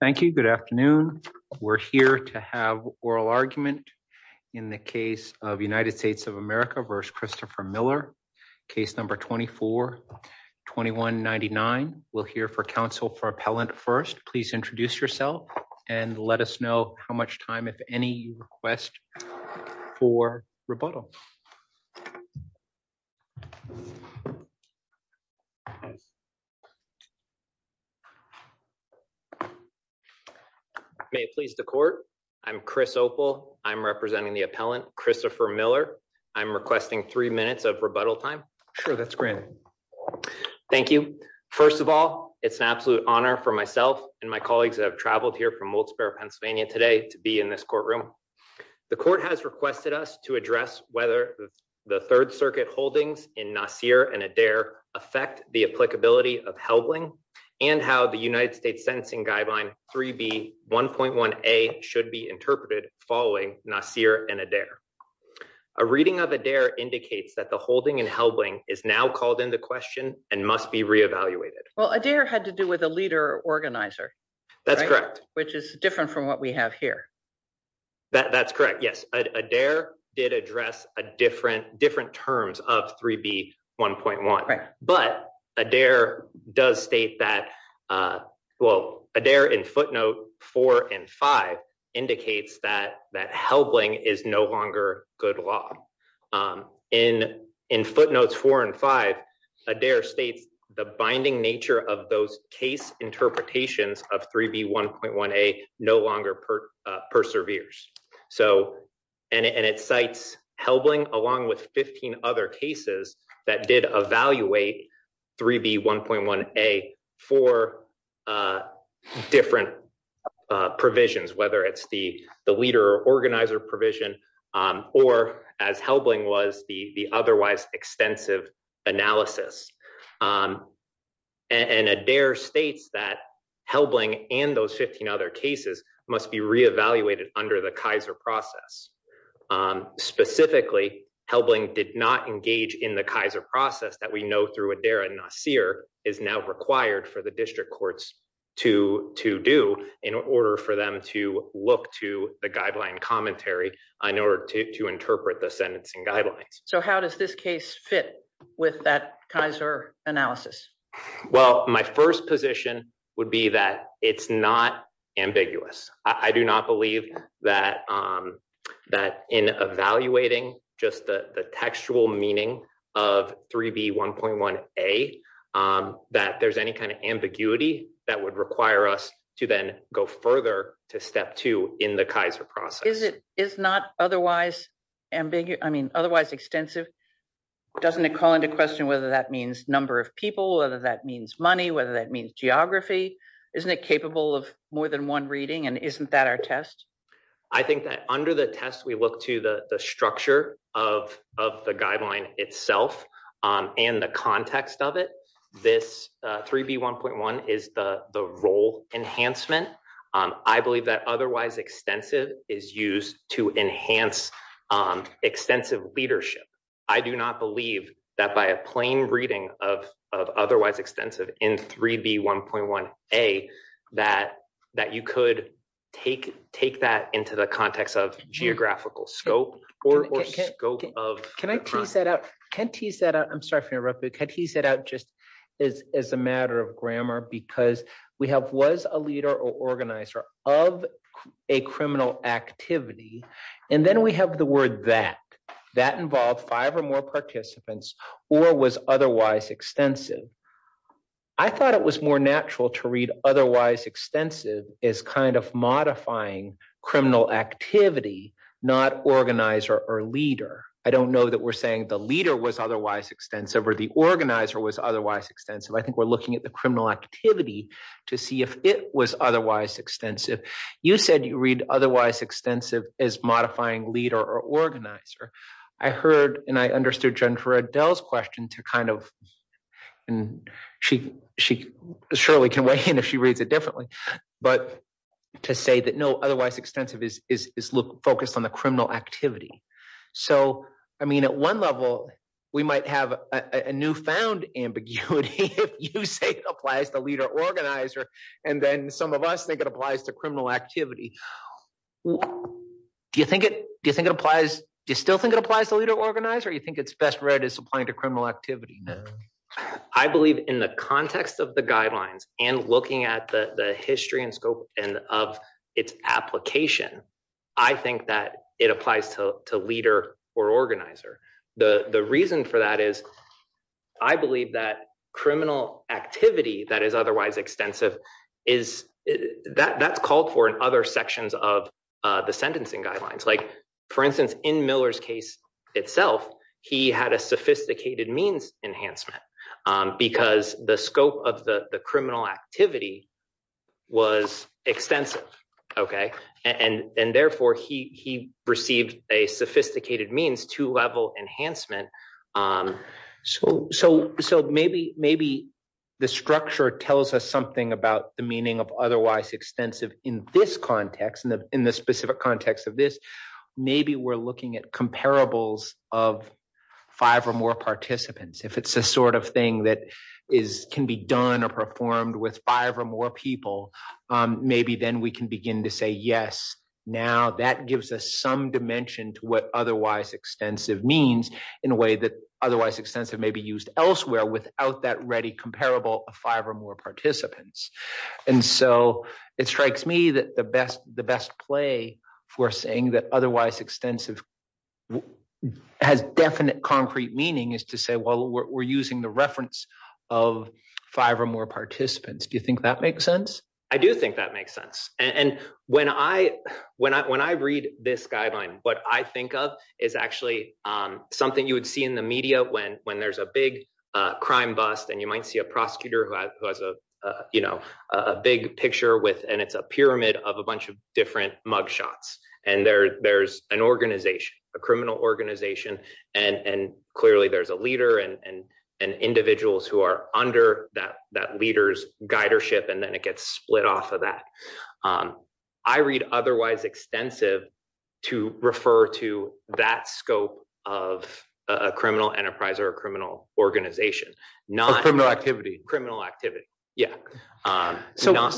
Thank you. Good afternoon. We're here to have oral argument in the case of United States of America v. Christopher Miller, case number 24-2199. We'll hear for counsel for appellant first. Please introduce yourself and let us know how much time, if any, you request for rebuttal. Chris Opel May it please the court. I'm Chris Opel. I'm representing the appellant, Christopher Miller. I'm requesting three minutes of rebuttal time. Judge Goldberg Sure, that's granted. Chris Opel Thank you. First of all, it's an absolute honor for myself and my colleagues that have traveled here from Old Sparrow, Pennsylvania today to be in this courtroom. The court has requested us to address whether the Third Circuit holdings in Nassir and Adair affect the applicability of Helbling and how the United States Sentencing Guideline 3B 1.1a should be interpreted following Nassir and Adair. A reading of Adair indicates that the holding in Helbling is now called into question and must be reevaluated. Judge Goldberg Well, Adair had to do with a leader organizer. Chris Opel That's correct. Judge Goldberg Which is different from what we have here. Chris Opel That's correct, yes. Adair did address different terms of 3B 1.1. But Adair does state that, well, Adair in footnote 4 and 5 indicates that Helbling is no longer good law. In footnotes 4 and 5, Adair states the binding 15 other cases that did evaluate 3B 1.1a for different provisions, whether it's the leader organizer provision or as Helbling was the otherwise extensive analysis. And Adair states that Helbling and those 15 other cases must be reevaluated under the Kaiser process. Specifically, Helbling did not engage in the Kaiser process that we know through Adair and Nassir is now required for the district courts to do in order for them to look to the guideline commentary in order to interpret the sentencing guidelines. Judge Goldberg So how does this case fit with that Kaiser analysis? Chris Opel Well, my first position would be that it's not ambiguous. I do not believe that in evaluating just the textual meaning of 3B 1.1a that there's any kind of ambiguity that would require us to then go further to step two in the Kaiser process. Judge Goldberg Is it is not otherwise extensive? Doesn't it call into question whether that means number of people, whether that means money, whether that means geography? Isn't it capable of more than one reading? And isn't that our test? Chris Opel I think that under the test, we look to the structure of the guideline itself and the context of it. This 3B 1.1 is the role enhancement. I believe that otherwise extensive is used to enhance extensive leadership. I do not believe that by a plain reading of otherwise extensive in 3B 1.1a that you could take that into the context of geographical scope. Judge Goldberg Can I tease that out? Can I tease that out? I'm sorry for interrupting. Can I tease that out just as a matter of grammar because we have was a leader or organizer of a criminal activity. And then we have the word that. That involved five or more participants or was extensive. I thought it was more natural to read otherwise extensive is kind of modifying criminal activity, not organizer or leader. I don't know that we're saying the leader was otherwise extensive or the organizer was otherwise extensive. I think we're looking at the criminal activity to see if it was otherwise extensive. You said you read otherwise extensive as modifying leader or organizer. I heard and I understood Jennifer Adele's question to kind of. And she surely can weigh in if she reads it differently. But to say that no, otherwise extensive is focused on the criminal activity. So, I mean, at one level, we might have a new found ambiguity if you say it applies to leader organizer and then some of us think it applies to activity. Do you think it do you think it applies? Do you still think it applies to leader organizer? You think it's best read as applying to criminal activity? I believe in the context of the guidelines and looking at the history and scope and of its application, I think that it applies to leader or organizer. The reason for that is I believe that criminal activity that is otherwise extensive is that's called for in other sections of the sentencing guidelines. Like, for instance, in Miller's case itself, he had a sophisticated means enhancement because the scope of the criminal activity was extensive. OK, and therefore he received a sophisticated means to level enhancement school. So so maybe maybe the structure tells us something about the meaning of otherwise extensive in this context, in the specific context of this. Maybe we're looking at comparables of five or more participants if it's the sort of thing that is can be done or performed with five or more people. Maybe then we can begin to say, yes, now that gives us some dimension to what extensive means in a way that otherwise extensive may be used elsewhere without that ready comparable of five or more participants. And so it strikes me that the best the best play for saying that otherwise extensive has definite, concrete meaning is to say, well, we're using the reference of five or more participants. Do you think that makes sense? I do think that makes sense. And when I when I when I read this guideline, what I think of is actually something you would see in the media when when there's a big crime bust and you might see a prosecutor who has a big picture with and it's a pyramid of a bunch of different mugshots and there there's an organization, a criminal organization. And clearly there's a leader and individuals who are under that that split off of that. I read otherwise extensive to refer to that scope of a criminal enterprise or a criminal organization, not criminal activity, criminal activity. Yeah. So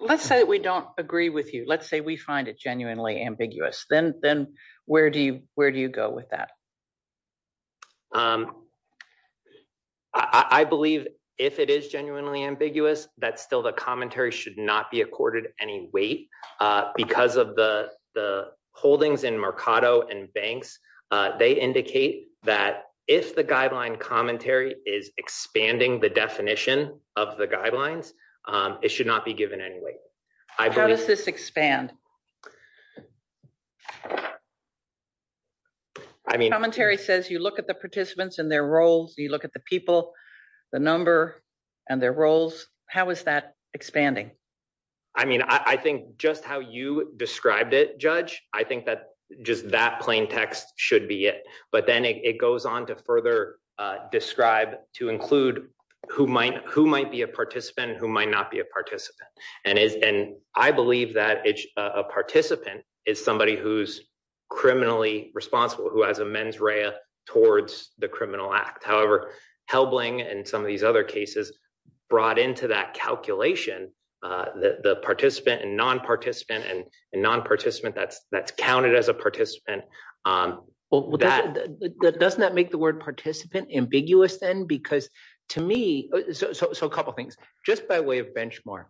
let's say we don't agree with you. Let's say we find it genuinely ambiguous. Then then where do you where do you with that? I believe if it is genuinely ambiguous, that's still the commentary should not be accorded any weight because of the the holdings in Mercado and banks. They indicate that if the guideline commentary is expanding the definition of the guidelines, it should not be given any weight. How does this expand? I mean, commentary says you look at the participants and their roles, you look at the people, the number and their roles. How is that expanding? I mean, I think just how you described it, Judge, I think that just that plain text should be it. But then it goes on to further describe to include who might who might be a participant, who might not be a participant. And is and I believe that a participant is somebody who's criminally responsible, who has a mens rea towards the criminal act. However, Helbling and some of these other cases brought into that calculation that the participant and non participant and non participant that's counted as a participant. Well, that doesn't that make the word participant ambiguous then? Because to me, so a couple of things just by way of benchmark.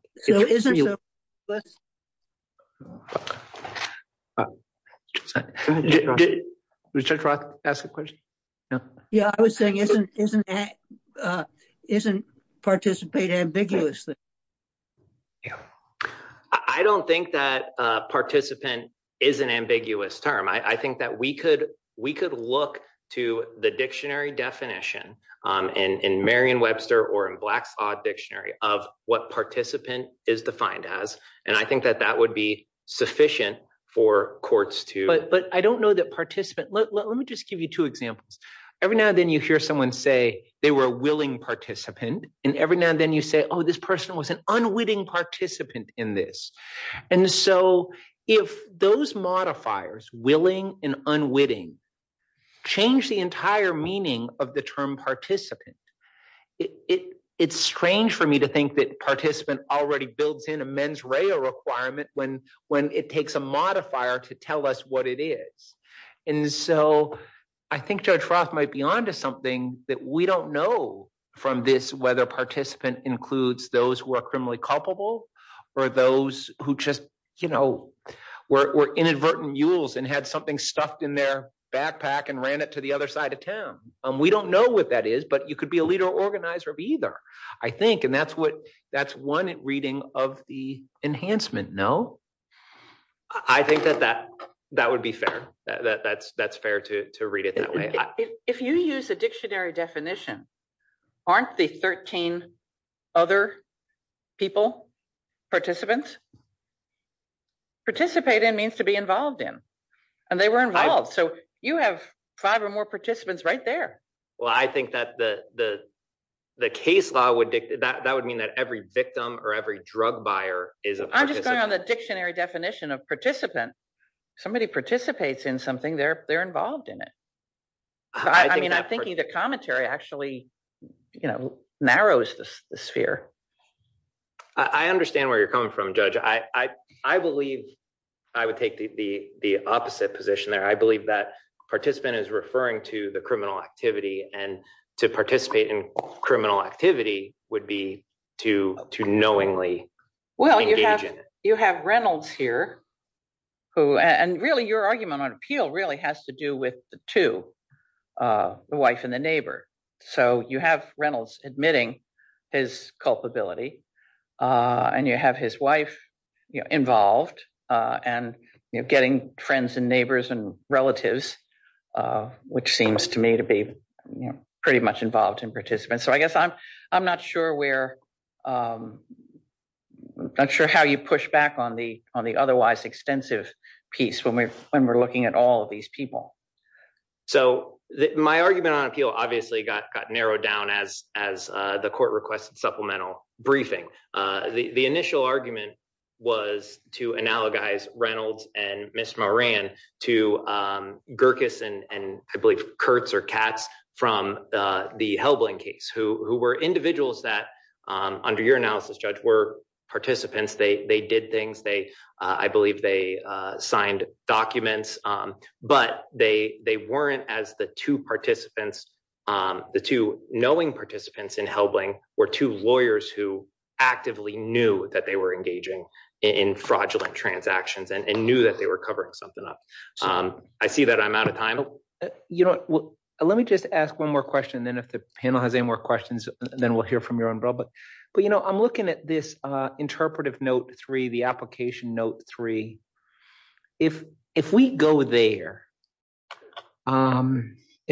We should ask a question. Yeah, I was saying isn't isn't isn't participate ambiguously. Yeah, I don't think that participant is an ambiguous term. I think that we could we could look to the dictionary definition in Marion Webster or in Black's odd dictionary of what participant is defined as. And I think that that would be sufficient for courts to. But I don't know that participant. Let me just give you two examples. Every now and then you hear someone say they were willing participant and every now and then you say, oh, this person was an unwitting participant in this. And so if those modifiers willing and unwitting change the entire meaning of the term participant, it's strange for me to think that participant already builds in a mens rea requirement when when it takes a modifier to tell us what it is. And so I think Judge Roth might be onto something that we don't know from this, whether participant includes those who are criminally culpable or those who just, you know, were inadvertent mules and had something stuffed in their backpack and ran it to the other side of town. We don't know what that is, but you could be a leader organizer of either, I think. And that's what that's one reading of the enhancement. No, I think that that that would be fair. That's that's fair to read it that way. If you use a dictionary definition, aren't the 13 other people participants participate in means to be involved in and they were involved. So you have five or more participants right there. Well, I think that the the the case law would dictate that would mean that every victim or every drug buyer is a I'm just going on the dictionary definition of participant. Somebody participates in something, they're they're involved in it. I mean, I'm thinking the commentary actually, you know, narrows the sphere. I understand where you're coming from, Judge. I, I believe I would take the opposite position there. I believe that participant is referring to the criminal activity and to participate in criminal activity would be to to knowingly. Well, you have you have Reynolds here who and really your argument on appeal really has to do with the two, the wife and the neighbor. So you have Reynolds admitting his culpability and you have his wife involved and getting friends and neighbors and relatives, which seems to me to be pretty much involved in participants. So I guess I'm I'm not sure where I'm not sure how you push back on the on the otherwise extensive piece when we're when we're looking at all of these people. So my argument on appeal obviously got narrowed down as as the court requested supplemental briefing. The initial argument was to analogize Reynolds and Ms. Moran to Gerkes and I believe Kurtz or Katz from the Helbling case, who were individuals that under your analysis, Judge, were participants. They they did things they I believe they signed documents, but they they weren't as the two participants, the two knowing participants in Helbling were two lawyers who actively knew that they were engaging in fraudulent transactions and knew that they were covering something up. I see that I'm out of time. You know, let me just ask one more question. Then if the panel has any more questions, then we'll hear from your own. But but, you know, I'm looking at this interpretive note three, the application note three. If if we go there and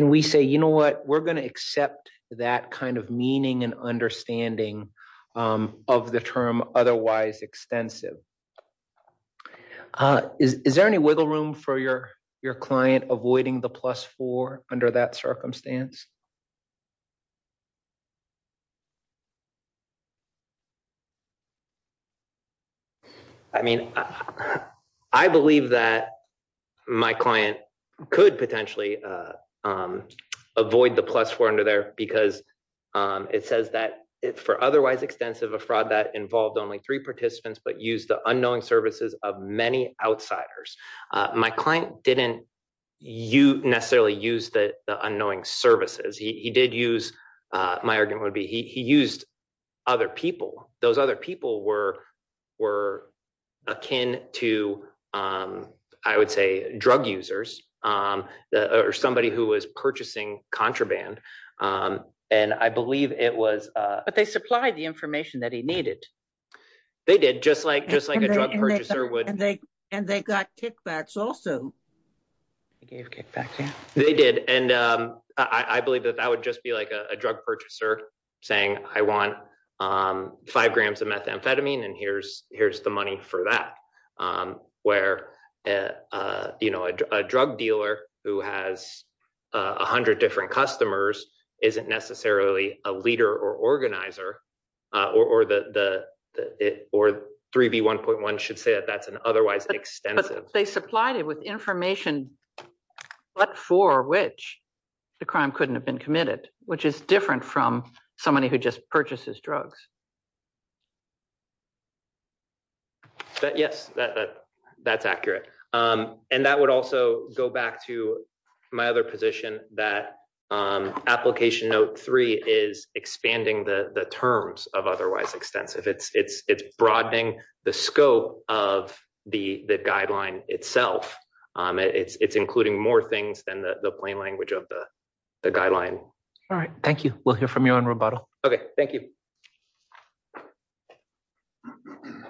we say, you know what, we're going to accept that kind of meaning and understanding of the term otherwise extensive. Is there any wiggle room for your your client avoiding the plus four under that circumstance? I mean, I believe that my client could potentially avoid the plus four under there because it says that for otherwise extensive, a fraud that involved only three participants, but use the unknowing services of many outsiders. My client didn't necessarily use the unknowing services. He did use my argument would be he used other people. Those other people were were akin to, I would say, drug users or somebody who was purchasing contraband. And I believe it was but they supply the information that he needed. They did just like just like a drug purchaser and they got kickbacks also. They did. And I believe that that would just be like a drug purchaser saying I want five grams of methamphetamine and here's here's the money for that. Where, you know, a drug dealer who has 100 different customers isn't necessarily a leader or organizer or the or 3B1.1 should say that that's an otherwise extensive. They supplied it with information but for which the crime couldn't have been committed, which is different from somebody who just purchases drugs. Yes, that's accurate. And that would also go back to my other position that application note three is expanding the terms of otherwise extensive. It's broadening the scope of the guideline itself. It's including more things than the plain language of the guideline. All right. Thank you. We'll hear from you on rebuttal. Okay, thank you. Mm hmm.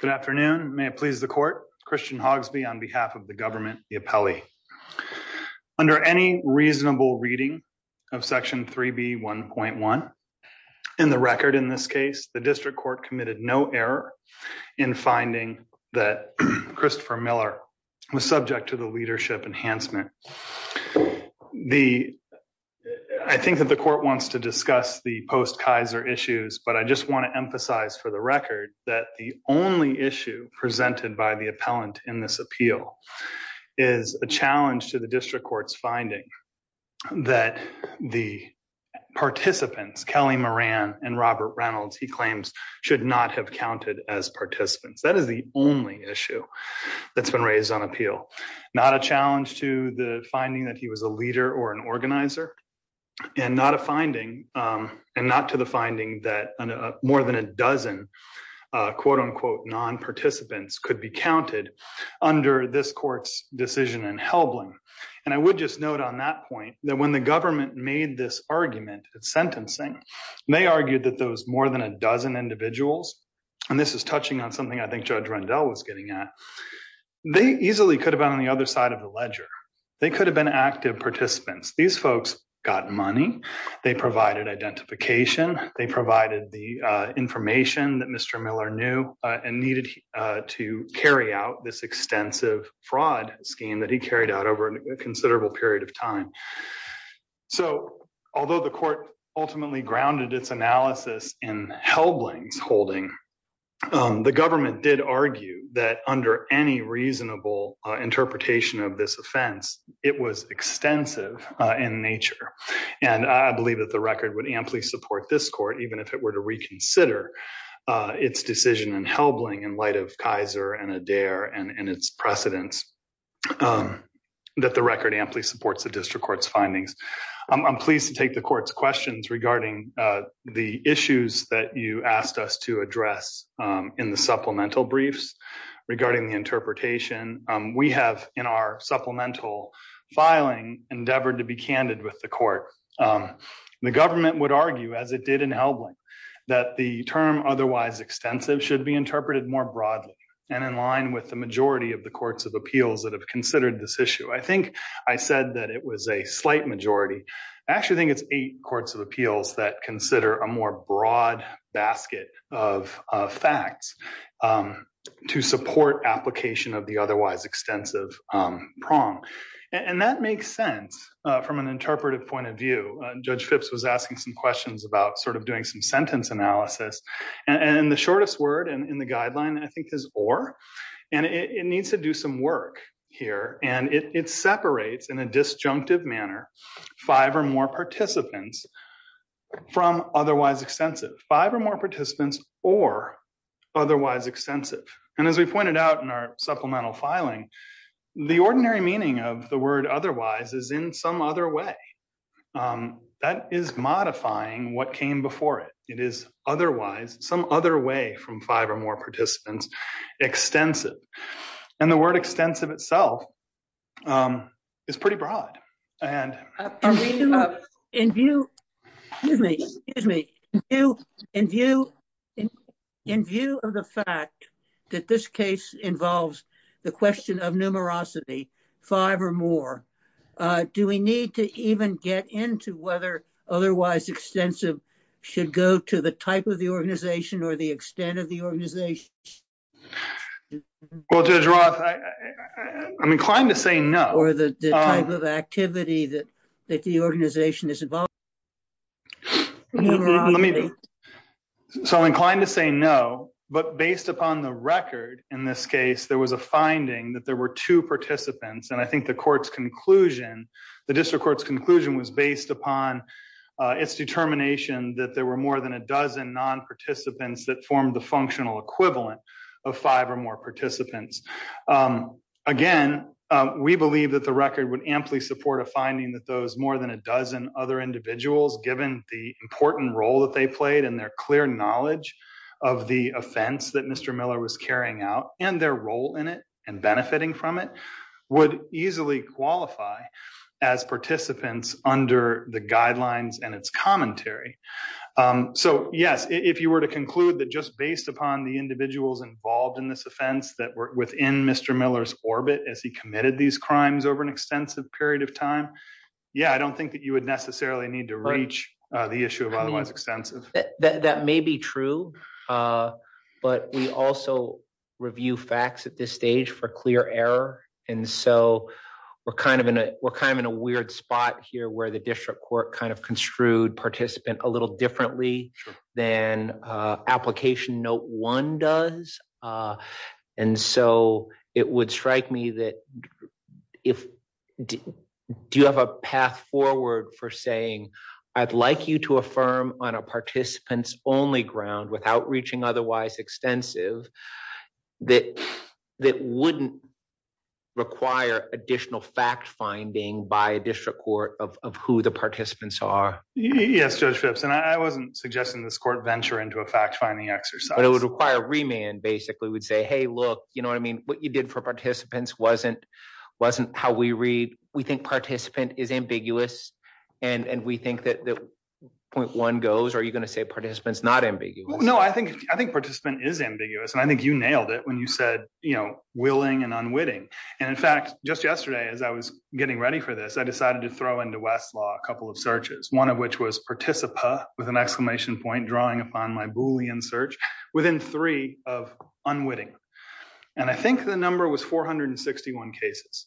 Good afternoon. May it please the court. Christian Hogsby on behalf of the government, the appellee under any reasonable reading of section 3B1.1 in the record. In this case, the district court committed no error in finding that Christopher Miller was subject to the leadership enhancement. The I think that the court wants to discuss the post Kaiser issues, but I just want to emphasize for the record that the only issue presented by the appellant in this appeal is a challenge to the district court's finding that the participants, Kelly Moran and Robert Reynolds, he claims should not have counted as participants. That is the only issue that's been raised on appeal. Not a challenge to the finding that he was a leader or an organizer and not a finding and not to the finding that more than a dozen quote unquote non-participants could be counted under this court's decision in Helbling. And I would just note on that point that when the government made this argument at sentencing, they argued that those more than a dozen individuals, and this is touching on something I think Judge Rendell was getting at, they easily could have been on the other side of the ledger. They could have been active participants. These folks got money. They provided identification. They provided the information that Mr. Miller knew and needed to carry out this extensive fraud scheme that he carried out over a considerable period of time. So although the court ultimately grounded its analysis in Helbling's holding, the government did argue that under any reasonable interpretation of this offense, it was extensive in nature. And I believe that the record would amply support this court, even if it were to reconsider its decision in Helbling in light of Kaiser and Adair and its precedents, that the record amply supports the district court's findings. I'm pleased to take the court's questions regarding the issues that you asked us to address in the supplemental briefs regarding the interpretation. We have in our supplemental filing endeavored to be candid with the court. The government would argue, as it did in Helbling, that the term otherwise extensive should be interpreted more broadly and in line with the majority of the courts of appeals that have considered this issue. I think I said that it was a slight majority. I actually think it's eight courts of appeals that consider a more broad basket of facts to support application of otherwise extensive prong. And that makes sense from an interpretive point of view. Judge Phipps was asking some questions about doing some sentence analysis. And the shortest word in the guideline, I think, is or. And it needs to do some work here. And it separates in a disjunctive manner five or more participants from otherwise extensive. Five or more participants or otherwise extensive. And as we pointed out in our supplemental filing, the ordinary meaning of the word otherwise is in some other way. That is modifying what came before it. It is otherwise, some other way from five or more participants, extensive. And the word extensive itself is pretty broad. In view of the fact that this case involves the question of numerosity, five or more, do we need to even get into whether otherwise extensive should go to the type of the organization or the extent of the organization? Well, Judge Roth, I'm inclined to say no. Or the type of activity that the organization is involved in. So I'm inclined to say no. But based upon the record in this case, there was a finding that there were two participants. And I think the court's conclusion, the district court's conclusion was based upon its determination that there were more than a dozen non-participants that formed the functional equivalent of five or more participants. Again, we believe that the record would amply support a finding that those more than a dozen other individuals, given the important role that they played and their clear knowledge of the offense that Mr. Miller was carrying out and their role in it and benefiting from it, would easily qualify as participants under the guidelines and its commentary. So yes, if you were to conclude that just based upon the individuals involved in this offense that were within Mr. Miller's orbit as he committed these crimes over an extensive period of time, yeah, I don't think that you would necessarily need to reach the issue of otherwise extensive. That may be true. But we also review facts at this stage for clear error. And so we're kind of in a weird spot here where the district court kind of construed participant a little differently than application note one does. And so it would strike me that if, do you have a path forward for saying, I'd like you to affirm on a participants only ground without reaching otherwise extensive, that wouldn't require additional fact-finding by a district court of who the participants are? Yes, Judge Phipps, and I wasn't suggesting this court venture into a fact-finding exercise. But it would require remand, basically. We'd say, hey, look, you know what I mean? What you did for participants wasn't how we read. We think point one goes. Are you going to say participants not ambiguous? No, I think participant is ambiguous. And I think you nailed it when you said willing and unwitting. And in fact, just yesterday as I was getting ready for this, I decided to throw into Westlaw a couple of searches, one of which was participa with an exclamation point drawing upon my Boolean search within three of unwitting. And I think the number was 461 cases.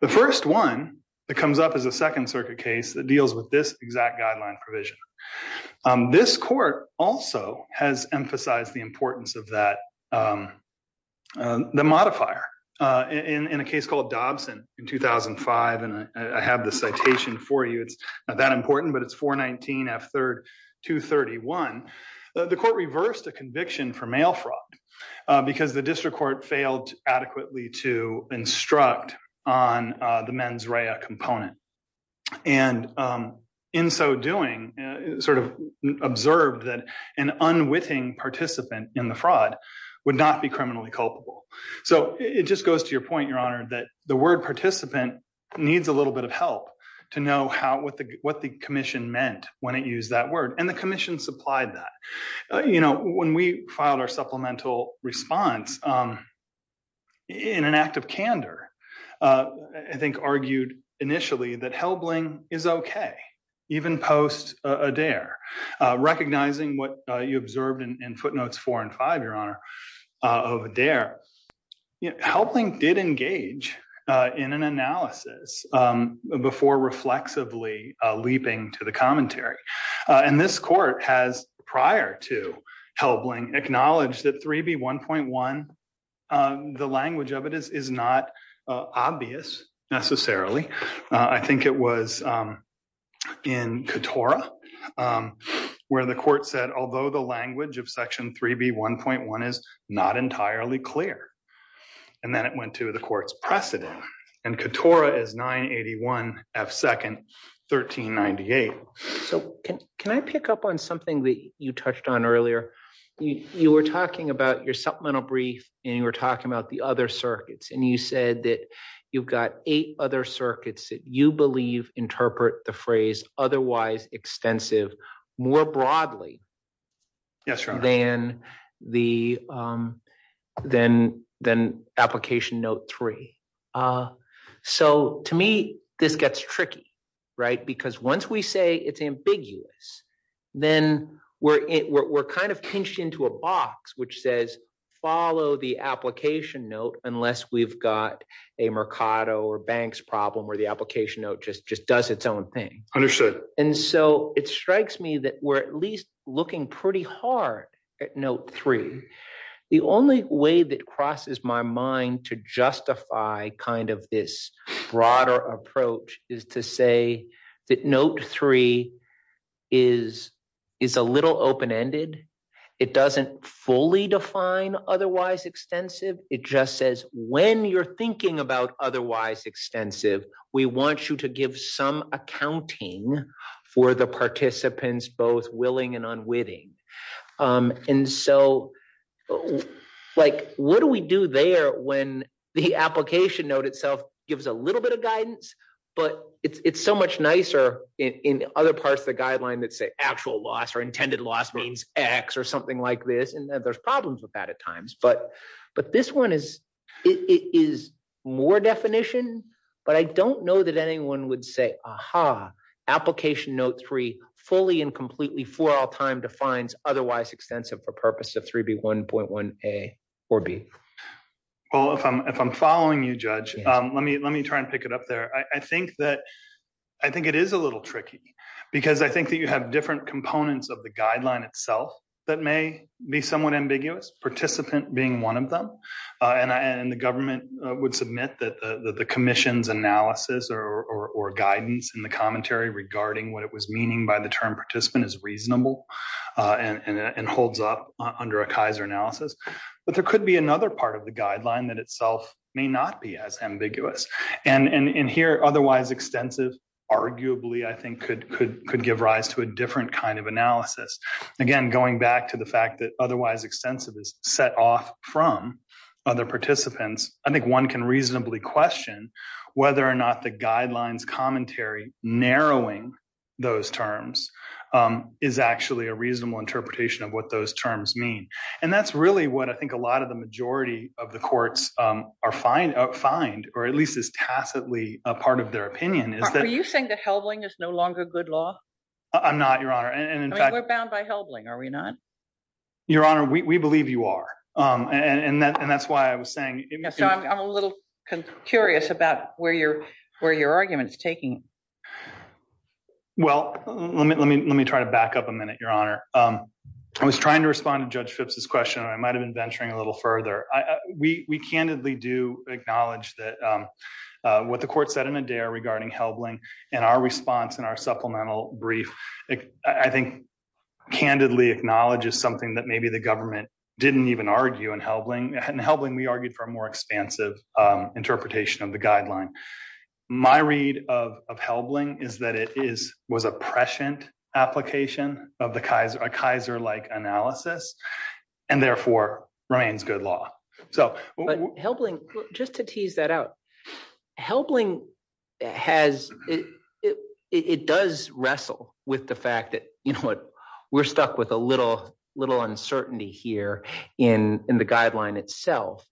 The first one that comes up as a second case that deals with this exact guideline provision. This court also has emphasized the importance of the modifier in a case called Dobson in 2005. And I have the citation for you. It's not that important, but it's 419F231. The court reversed a conviction for mail fraud because the district court failed adequately to instruct on the mens rea component. And in so doing, sort of observed that an unwitting participant in the fraud would not be criminally culpable. So it just goes to your point, Your Honor, that the word participant needs a little bit of help to know what the commission meant when it used that word. And the commission supplied that. When we filed our supplemental response in an act of candor, I think argued initially that Helbling is okay, even post Adair, recognizing what you observed in footnotes four and five, Your Honor, of Adair. Helbling did engage in an analysis before reflexively leaping to the commentary. And this court has, prior to Helbling, acknowledged that Section 3B1.1, the language of it is not obvious necessarily. I think it was in Katora, where the court said, although the language of Section 3B1.1 is not entirely clear. And then it went to the court's precedent. And Katora is 981F2nd 1398. So can I pick up on something that touched on earlier? You were talking about your supplemental brief and you were talking about the other circuits. And you said that you've got eight other circuits that you believe interpret the phrase otherwise extensive more broadly than application note three. So to me, this gets we're kind of pinched into a box, which says, follow the application note, unless we've got a Mercado or Banks problem where the application note just does its own thing. And so it strikes me that we're at least looking pretty hard at note three. The only way that crosses my mind to justify kind of this broader approach is to say that note three is a little open-ended. It doesn't fully define otherwise extensive. It just says, when you're thinking about otherwise extensive, we want you to give some accounting for the participants, both willing and unwitting. And so like, what do we do there when the application note itself gives a little bit of guidance, but it's so much nicer in other parts of the guideline that say actual loss or X or something like this. And there's problems with that at times, but this one is more definition, but I don't know that anyone would say, aha, application note three fully and completely for all time defines otherwise extensive for purpose of 3B1.1A or B. Well, if I'm following you judge, let me try and pick it up there. I think it is a little tricky because I think that you have different components of the guideline itself that may be somewhat ambiguous participant being one of them. And the government would submit that the commission's analysis or guidance in the commentary regarding what it was meaning by the term participant is reasonable and holds up under a Kaiser analysis. But there could be another part of the guideline that itself may not be as ambiguous. And here, otherwise extensive arguably I think could give rise to a different kind of analysis. Again, going back to the fact that otherwise extensive is set off from other participants, I think one can reasonably question whether or not the guidelines commentary narrowing those terms is actually a reasonable interpretation of what those terms mean. And that's really what I think a lot of the majority of the courts find or at least is tacitly a part of their opinion. Are you saying that Helbling is no longer good law? I'm not, your honor. And in fact, we're bound by Helbling, are we not? Your honor, we believe you are. And that's why I was saying. I'm a little curious about where your argument is taking. Well, let me try to back up a minute, your honor. I was trying to respond to Judge Phipps's question. I might've been venturing a little further. We candidly do acknowledge that what the court said in Adair regarding Helbling and our response and our supplemental brief, I think candidly acknowledges something that maybe the government didn't even argue in Helbling. In Helbling, we argued for a more expansive interpretation of the guideline. My read of Helbling is that it was a prescient application of a Kaiser-like analysis. And therefore remains good law. Helbling, just to tease that out, Helbling has, it does wrestle with the fact that we're stuck with a little uncertainty here in the guideline itself,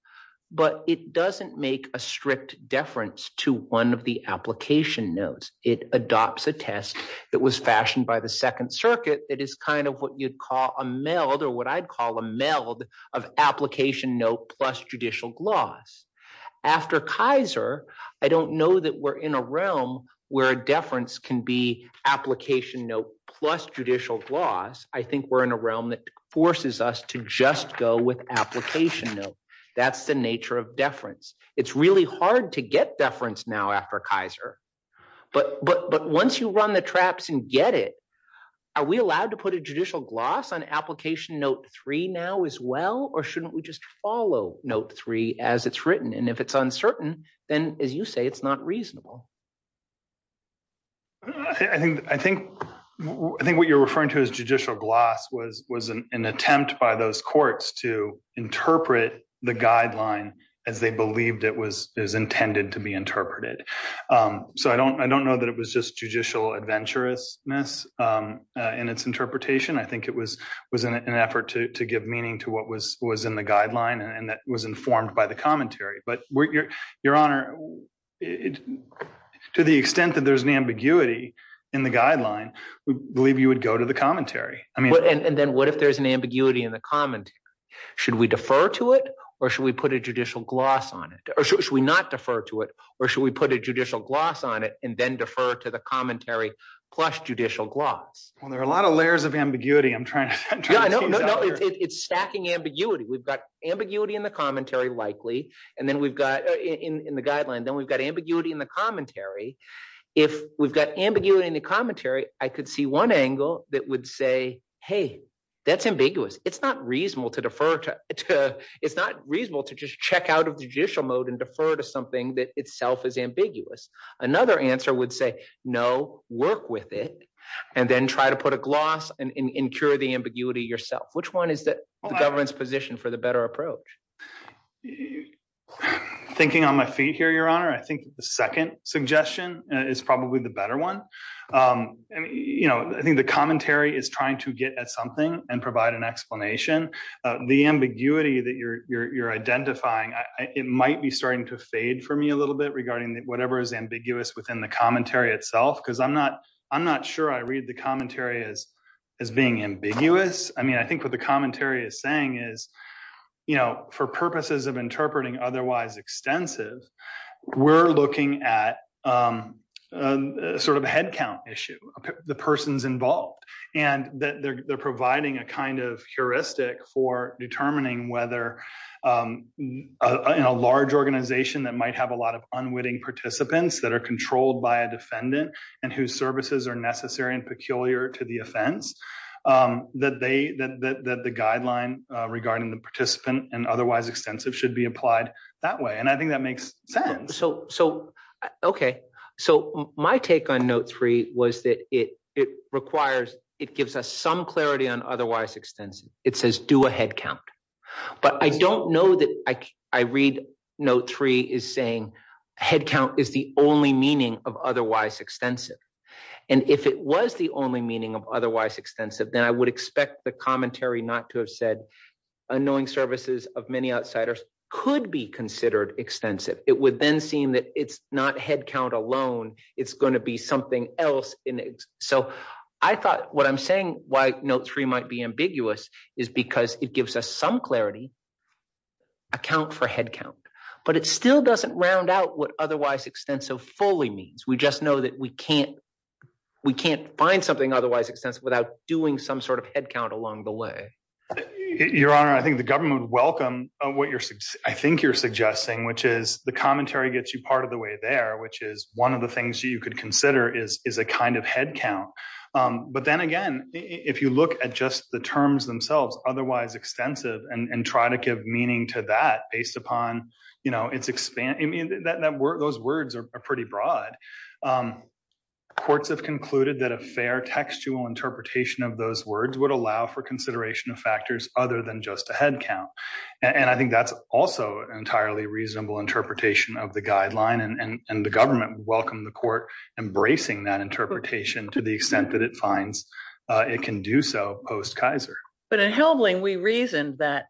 but it doesn't make a strict deference to one of the application notes. It adopts a test that was fashioned by the second circuit. It is kind of what you'd call a meld or what I'd call a meld of application note plus judicial gloss. After Kaiser, I don't know that we're in a realm where a deference can be application note plus judicial gloss. I think we're in a realm that forces us to just go with application note. That's the nature of deference. It's really hard to get deference now after Kaiser. But once you run the traps and get it, are we allowed to put a judicial gloss on application note three now as well, or shouldn't we just follow note three as it's written? And if it's uncertain, then as you say, it's not reasonable. I think what you're referring to as judicial gloss was an attempt by those courts to interpret the guideline as they believed it was intended to be interpreted. So I don't know that it was just judicial adventurousness in its interpretation. I think it was an effort to give meaning to what was in the guideline and that was informed by the commentary. But your honor, to the extent that there's an ambiguity in the guideline, we believe you would go to the commentary. And then what if there's an ambiguity in the commentary? Should we defer to it or should we put a judicial gloss on it? Or should we not defer to it? Or should we put a judicial gloss on it and then defer to the commentary plus judicial gloss? Well, there are a lot of layers of ambiguity. I'm trying to. No, it's stacking ambiguity. We've got ambiguity in the commentary, likely. And then we've got in the guideline, then we've got ambiguity in the commentary. If we've got ambiguity in the commentary, I could see one angle that would say, hey, that's ambiguous. It's not reasonable to defer to. It's not reasonable to just check out of the judicial mode and defer to something that itself is ambiguous. Another answer would say, no, work with it and then try to put a gloss and incur the ambiguity yourself. Which one is the government's position for the better approach? Thinking on my feet here, your honor, I think the second suggestion is probably the better one. I mean, I think the commentary is trying to get at something and provide an explanation. The ambiguity that you're identifying, it might be starting to fade for me a little bit regarding whatever is ambiguous within the commentary itself. Because I'm not sure I read the commentary as being ambiguous. I mean, I think what the commentary is saying is, for purposes of interpreting otherwise extensive, we're looking at sort of a headcount issue, the persons involved. And they're providing a kind of heuristic for determining whether in a large organization that might have a lot of unwitting participants that are controlled by a defendant and whose services are necessary and peculiar to the offense, that the guideline regarding the participant and otherwise extensive should be applied that way. And I think that makes sense. So my take on note three was that it requires, it gives us some clarity on otherwise extensive. It says do a headcount. But I don't know that I read note three is saying headcount is the only meaning of otherwise extensive. And if it was the only meaning of otherwise extensive, then I would expect the commentary not to have said unknowing services of many outsiders could be considered extensive. It would then seem that it's not headcount alone, it's going to be something else. So I thought what I'm saying why note three might be ambiguous is because it gives us some clarity, account for headcount. But it still doesn't round out what otherwise extensive fully means. We just know that we can't find something otherwise extensive without doing some sort of headcount along the way. Your Honor, I think the government would welcome what I think you're suggesting, which is the commentary gets you part of the way there, which is one of the things you could consider is a kind of headcount. But then again, if you look at just the terms themselves, otherwise extensive, and try to give meaning to that based upon, you know, it's expand, I mean, that word, those words are pretty broad. Courts have concluded that a fair textual interpretation of those words would allow for consideration of factors other than just a headcount. And I think that's also entirely reasonable interpretation of the guideline. And the government welcome the court embracing that interpretation to the extent that it finds it can do so post Kaiser. But in Helbling, we reasoned that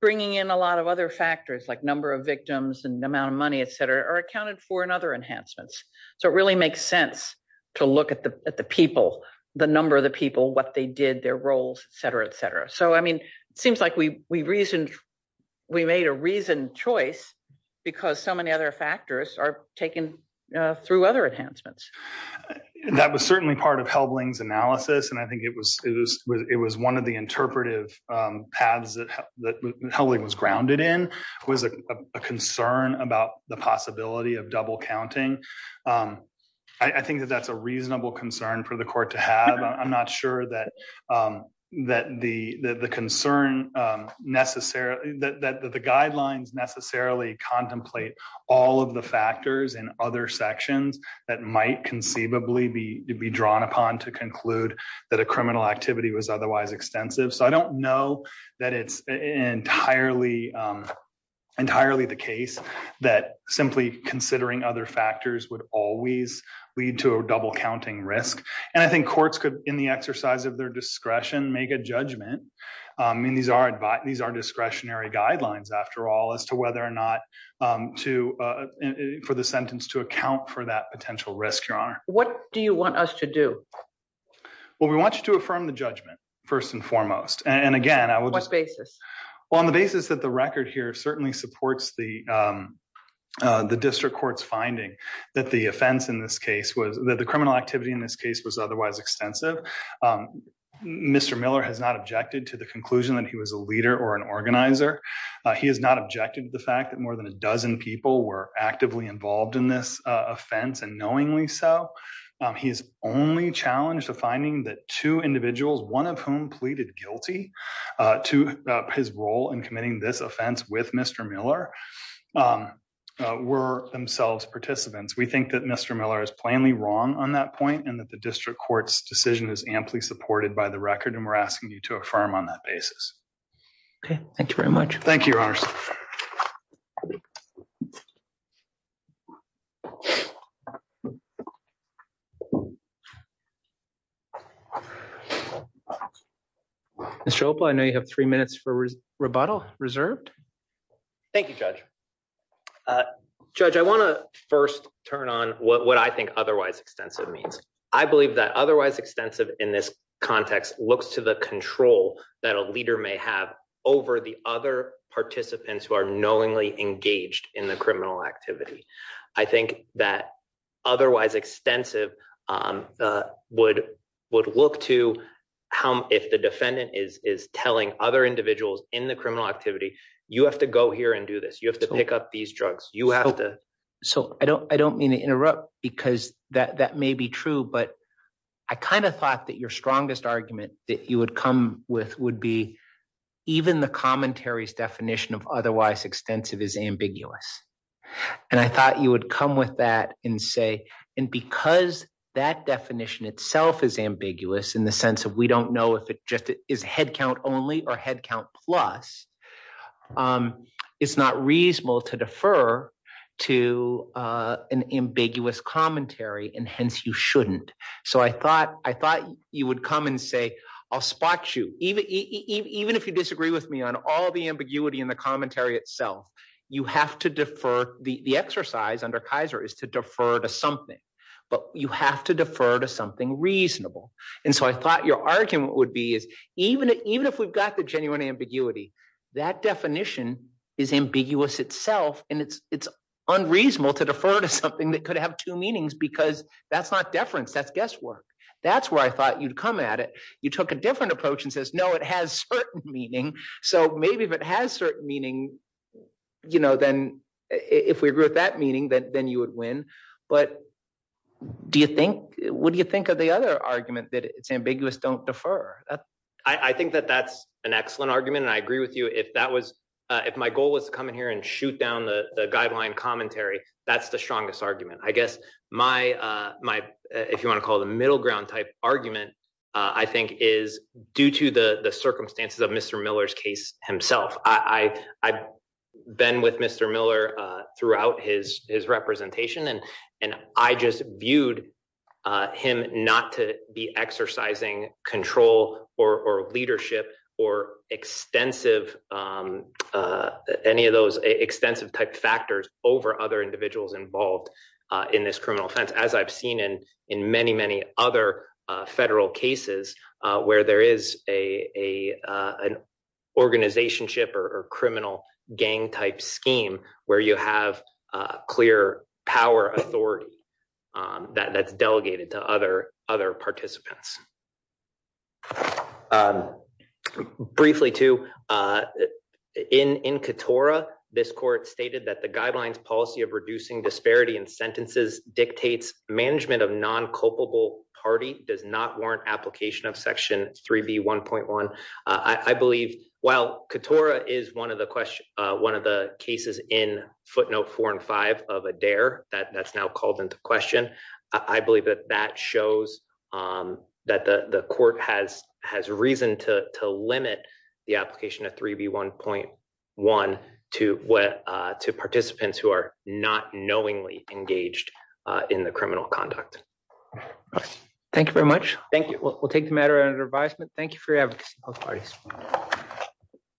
bringing in a lot of other factors like number of victims and amount of money, etc, are accounted for in other enhancements. So it really makes sense to look at the people, the number of the people, what they did, their roles, etc, etc. So I mean, it seems like we reasoned, we made a reasoned choice, because so many other factors are taken through other enhancements. That was certainly part of Helbling's analysis. And I think it was one of the interpretive paths that Helbling was grounded in, was a concern about the possibility of double counting. I think that that's a reasonable concern for the court to have, I'm not sure that the concern necessarily that the guidelines necessarily contemplate all of the factors and other sections that might conceivably be drawn upon to conclude that a criminal activity was otherwise extensive. So I don't know that it's entirely the case that simply considering other factors would always lead to a double counting risk. And I think courts could, in the exercise of their discretion, make a judgment. I mean, these are discretionary guidelines, after all, as to whether or not for the sentence to account for that potential risk, Your Honor. What do you want us to do? Well, we want you to affirm the judgment, first and foremost. And again, I would... Well, on the basis that the record here certainly supports the district court's finding that the offense in this case was, that the criminal activity in this case was otherwise extensive. Mr. Miller has not objected to the conclusion that he was a leader or an organizer. He has not objected to the fact that more than a dozen people were actively involved in this offense. And knowingly so, he's only challenged the finding that two individuals, one of whom pleaded guilty to his role in committing this offense with Mr. Miller, were themselves participants. We think that Mr. Miller is plainly wrong on that point and that the district court's decision is amply supported by the record. And we're asking you to affirm on that basis. Okay. Thank you very much. Thank you, Your Honor. Mr. Opa, I know you have three minutes for rebuttal reserved. Thank you, Judge. Judge, I want to first turn on what I think otherwise extensive means. I believe that otherwise extensive in this context looks to the control that a leader may have over the other participants who are knowingly engaged in the criminal activity. I think that otherwise extensive would look to how, if the defendant is telling other individuals in the criminal activity, you have to go here and do this. You have to pick up these drugs. So, I don't mean to interrupt because that may be true, but I kind of thought that your strongest argument that you would come with would be even the commentary's definition of otherwise extensive is ambiguous. And I thought you would come with that and say, and because that definition itself is ambiguous in the sense of we don't know if it just is head count only or head count plus, it's not reasonable to defer to an ambiguous commentary and hence you shouldn't. So, I thought you would come and say, I'll spot you. Even if you disagree with me on all the ambiguity in the commentary itself, you have to defer. The exercise under Kaiser is to defer to something, but you have to defer to something reasonable. And so, I thought your argument would be is even if we've got the genuine ambiguity, that definition is ambiguous itself, and it's unreasonable to defer to something that could have two meanings because that's not deference, that's guesswork. That's where I thought you'd come at it. You took a different approach and said, no, it has certain meaning. So, maybe if it has certain meaning, then if we agree with that meaning, then you would win. But what do you think of the other argument that it's ambiguous, don't defer? I think that that's an excellent argument and I agree with you. If my goal was to come in here and shoot down the guideline commentary, that's the strongest argument. I guess my, if you want to call it a middle ground type argument, I think is due to the circumstances of Mr. Miller's case himself. I've been with Mr. Miller throughout his representation and I just viewed him not to be exercising control or leadership or any of those extensive type factors over other individuals involved in this criminal offense, as I've seen in many, many other federal cases where there is an organization ship or criminal gang type scheme where you have clear power authority that's delegated to other participants. Briefly too, in Katora, this court stated that the guidelines policy of reducing disparity in sentences dictates management of non-culpable party does not warrant application of section 3B1.1. I believe while Katora is one of the cases in footnote four and five of Adair that's now called into question, I believe that that shows that the court has reason to limit the application of 3B1.1 to participants who are not knowingly engaged in the criminal conduct. Thank you very much. Thank you. We'll take the matter under advisement. Thank you for your advocacy both parties.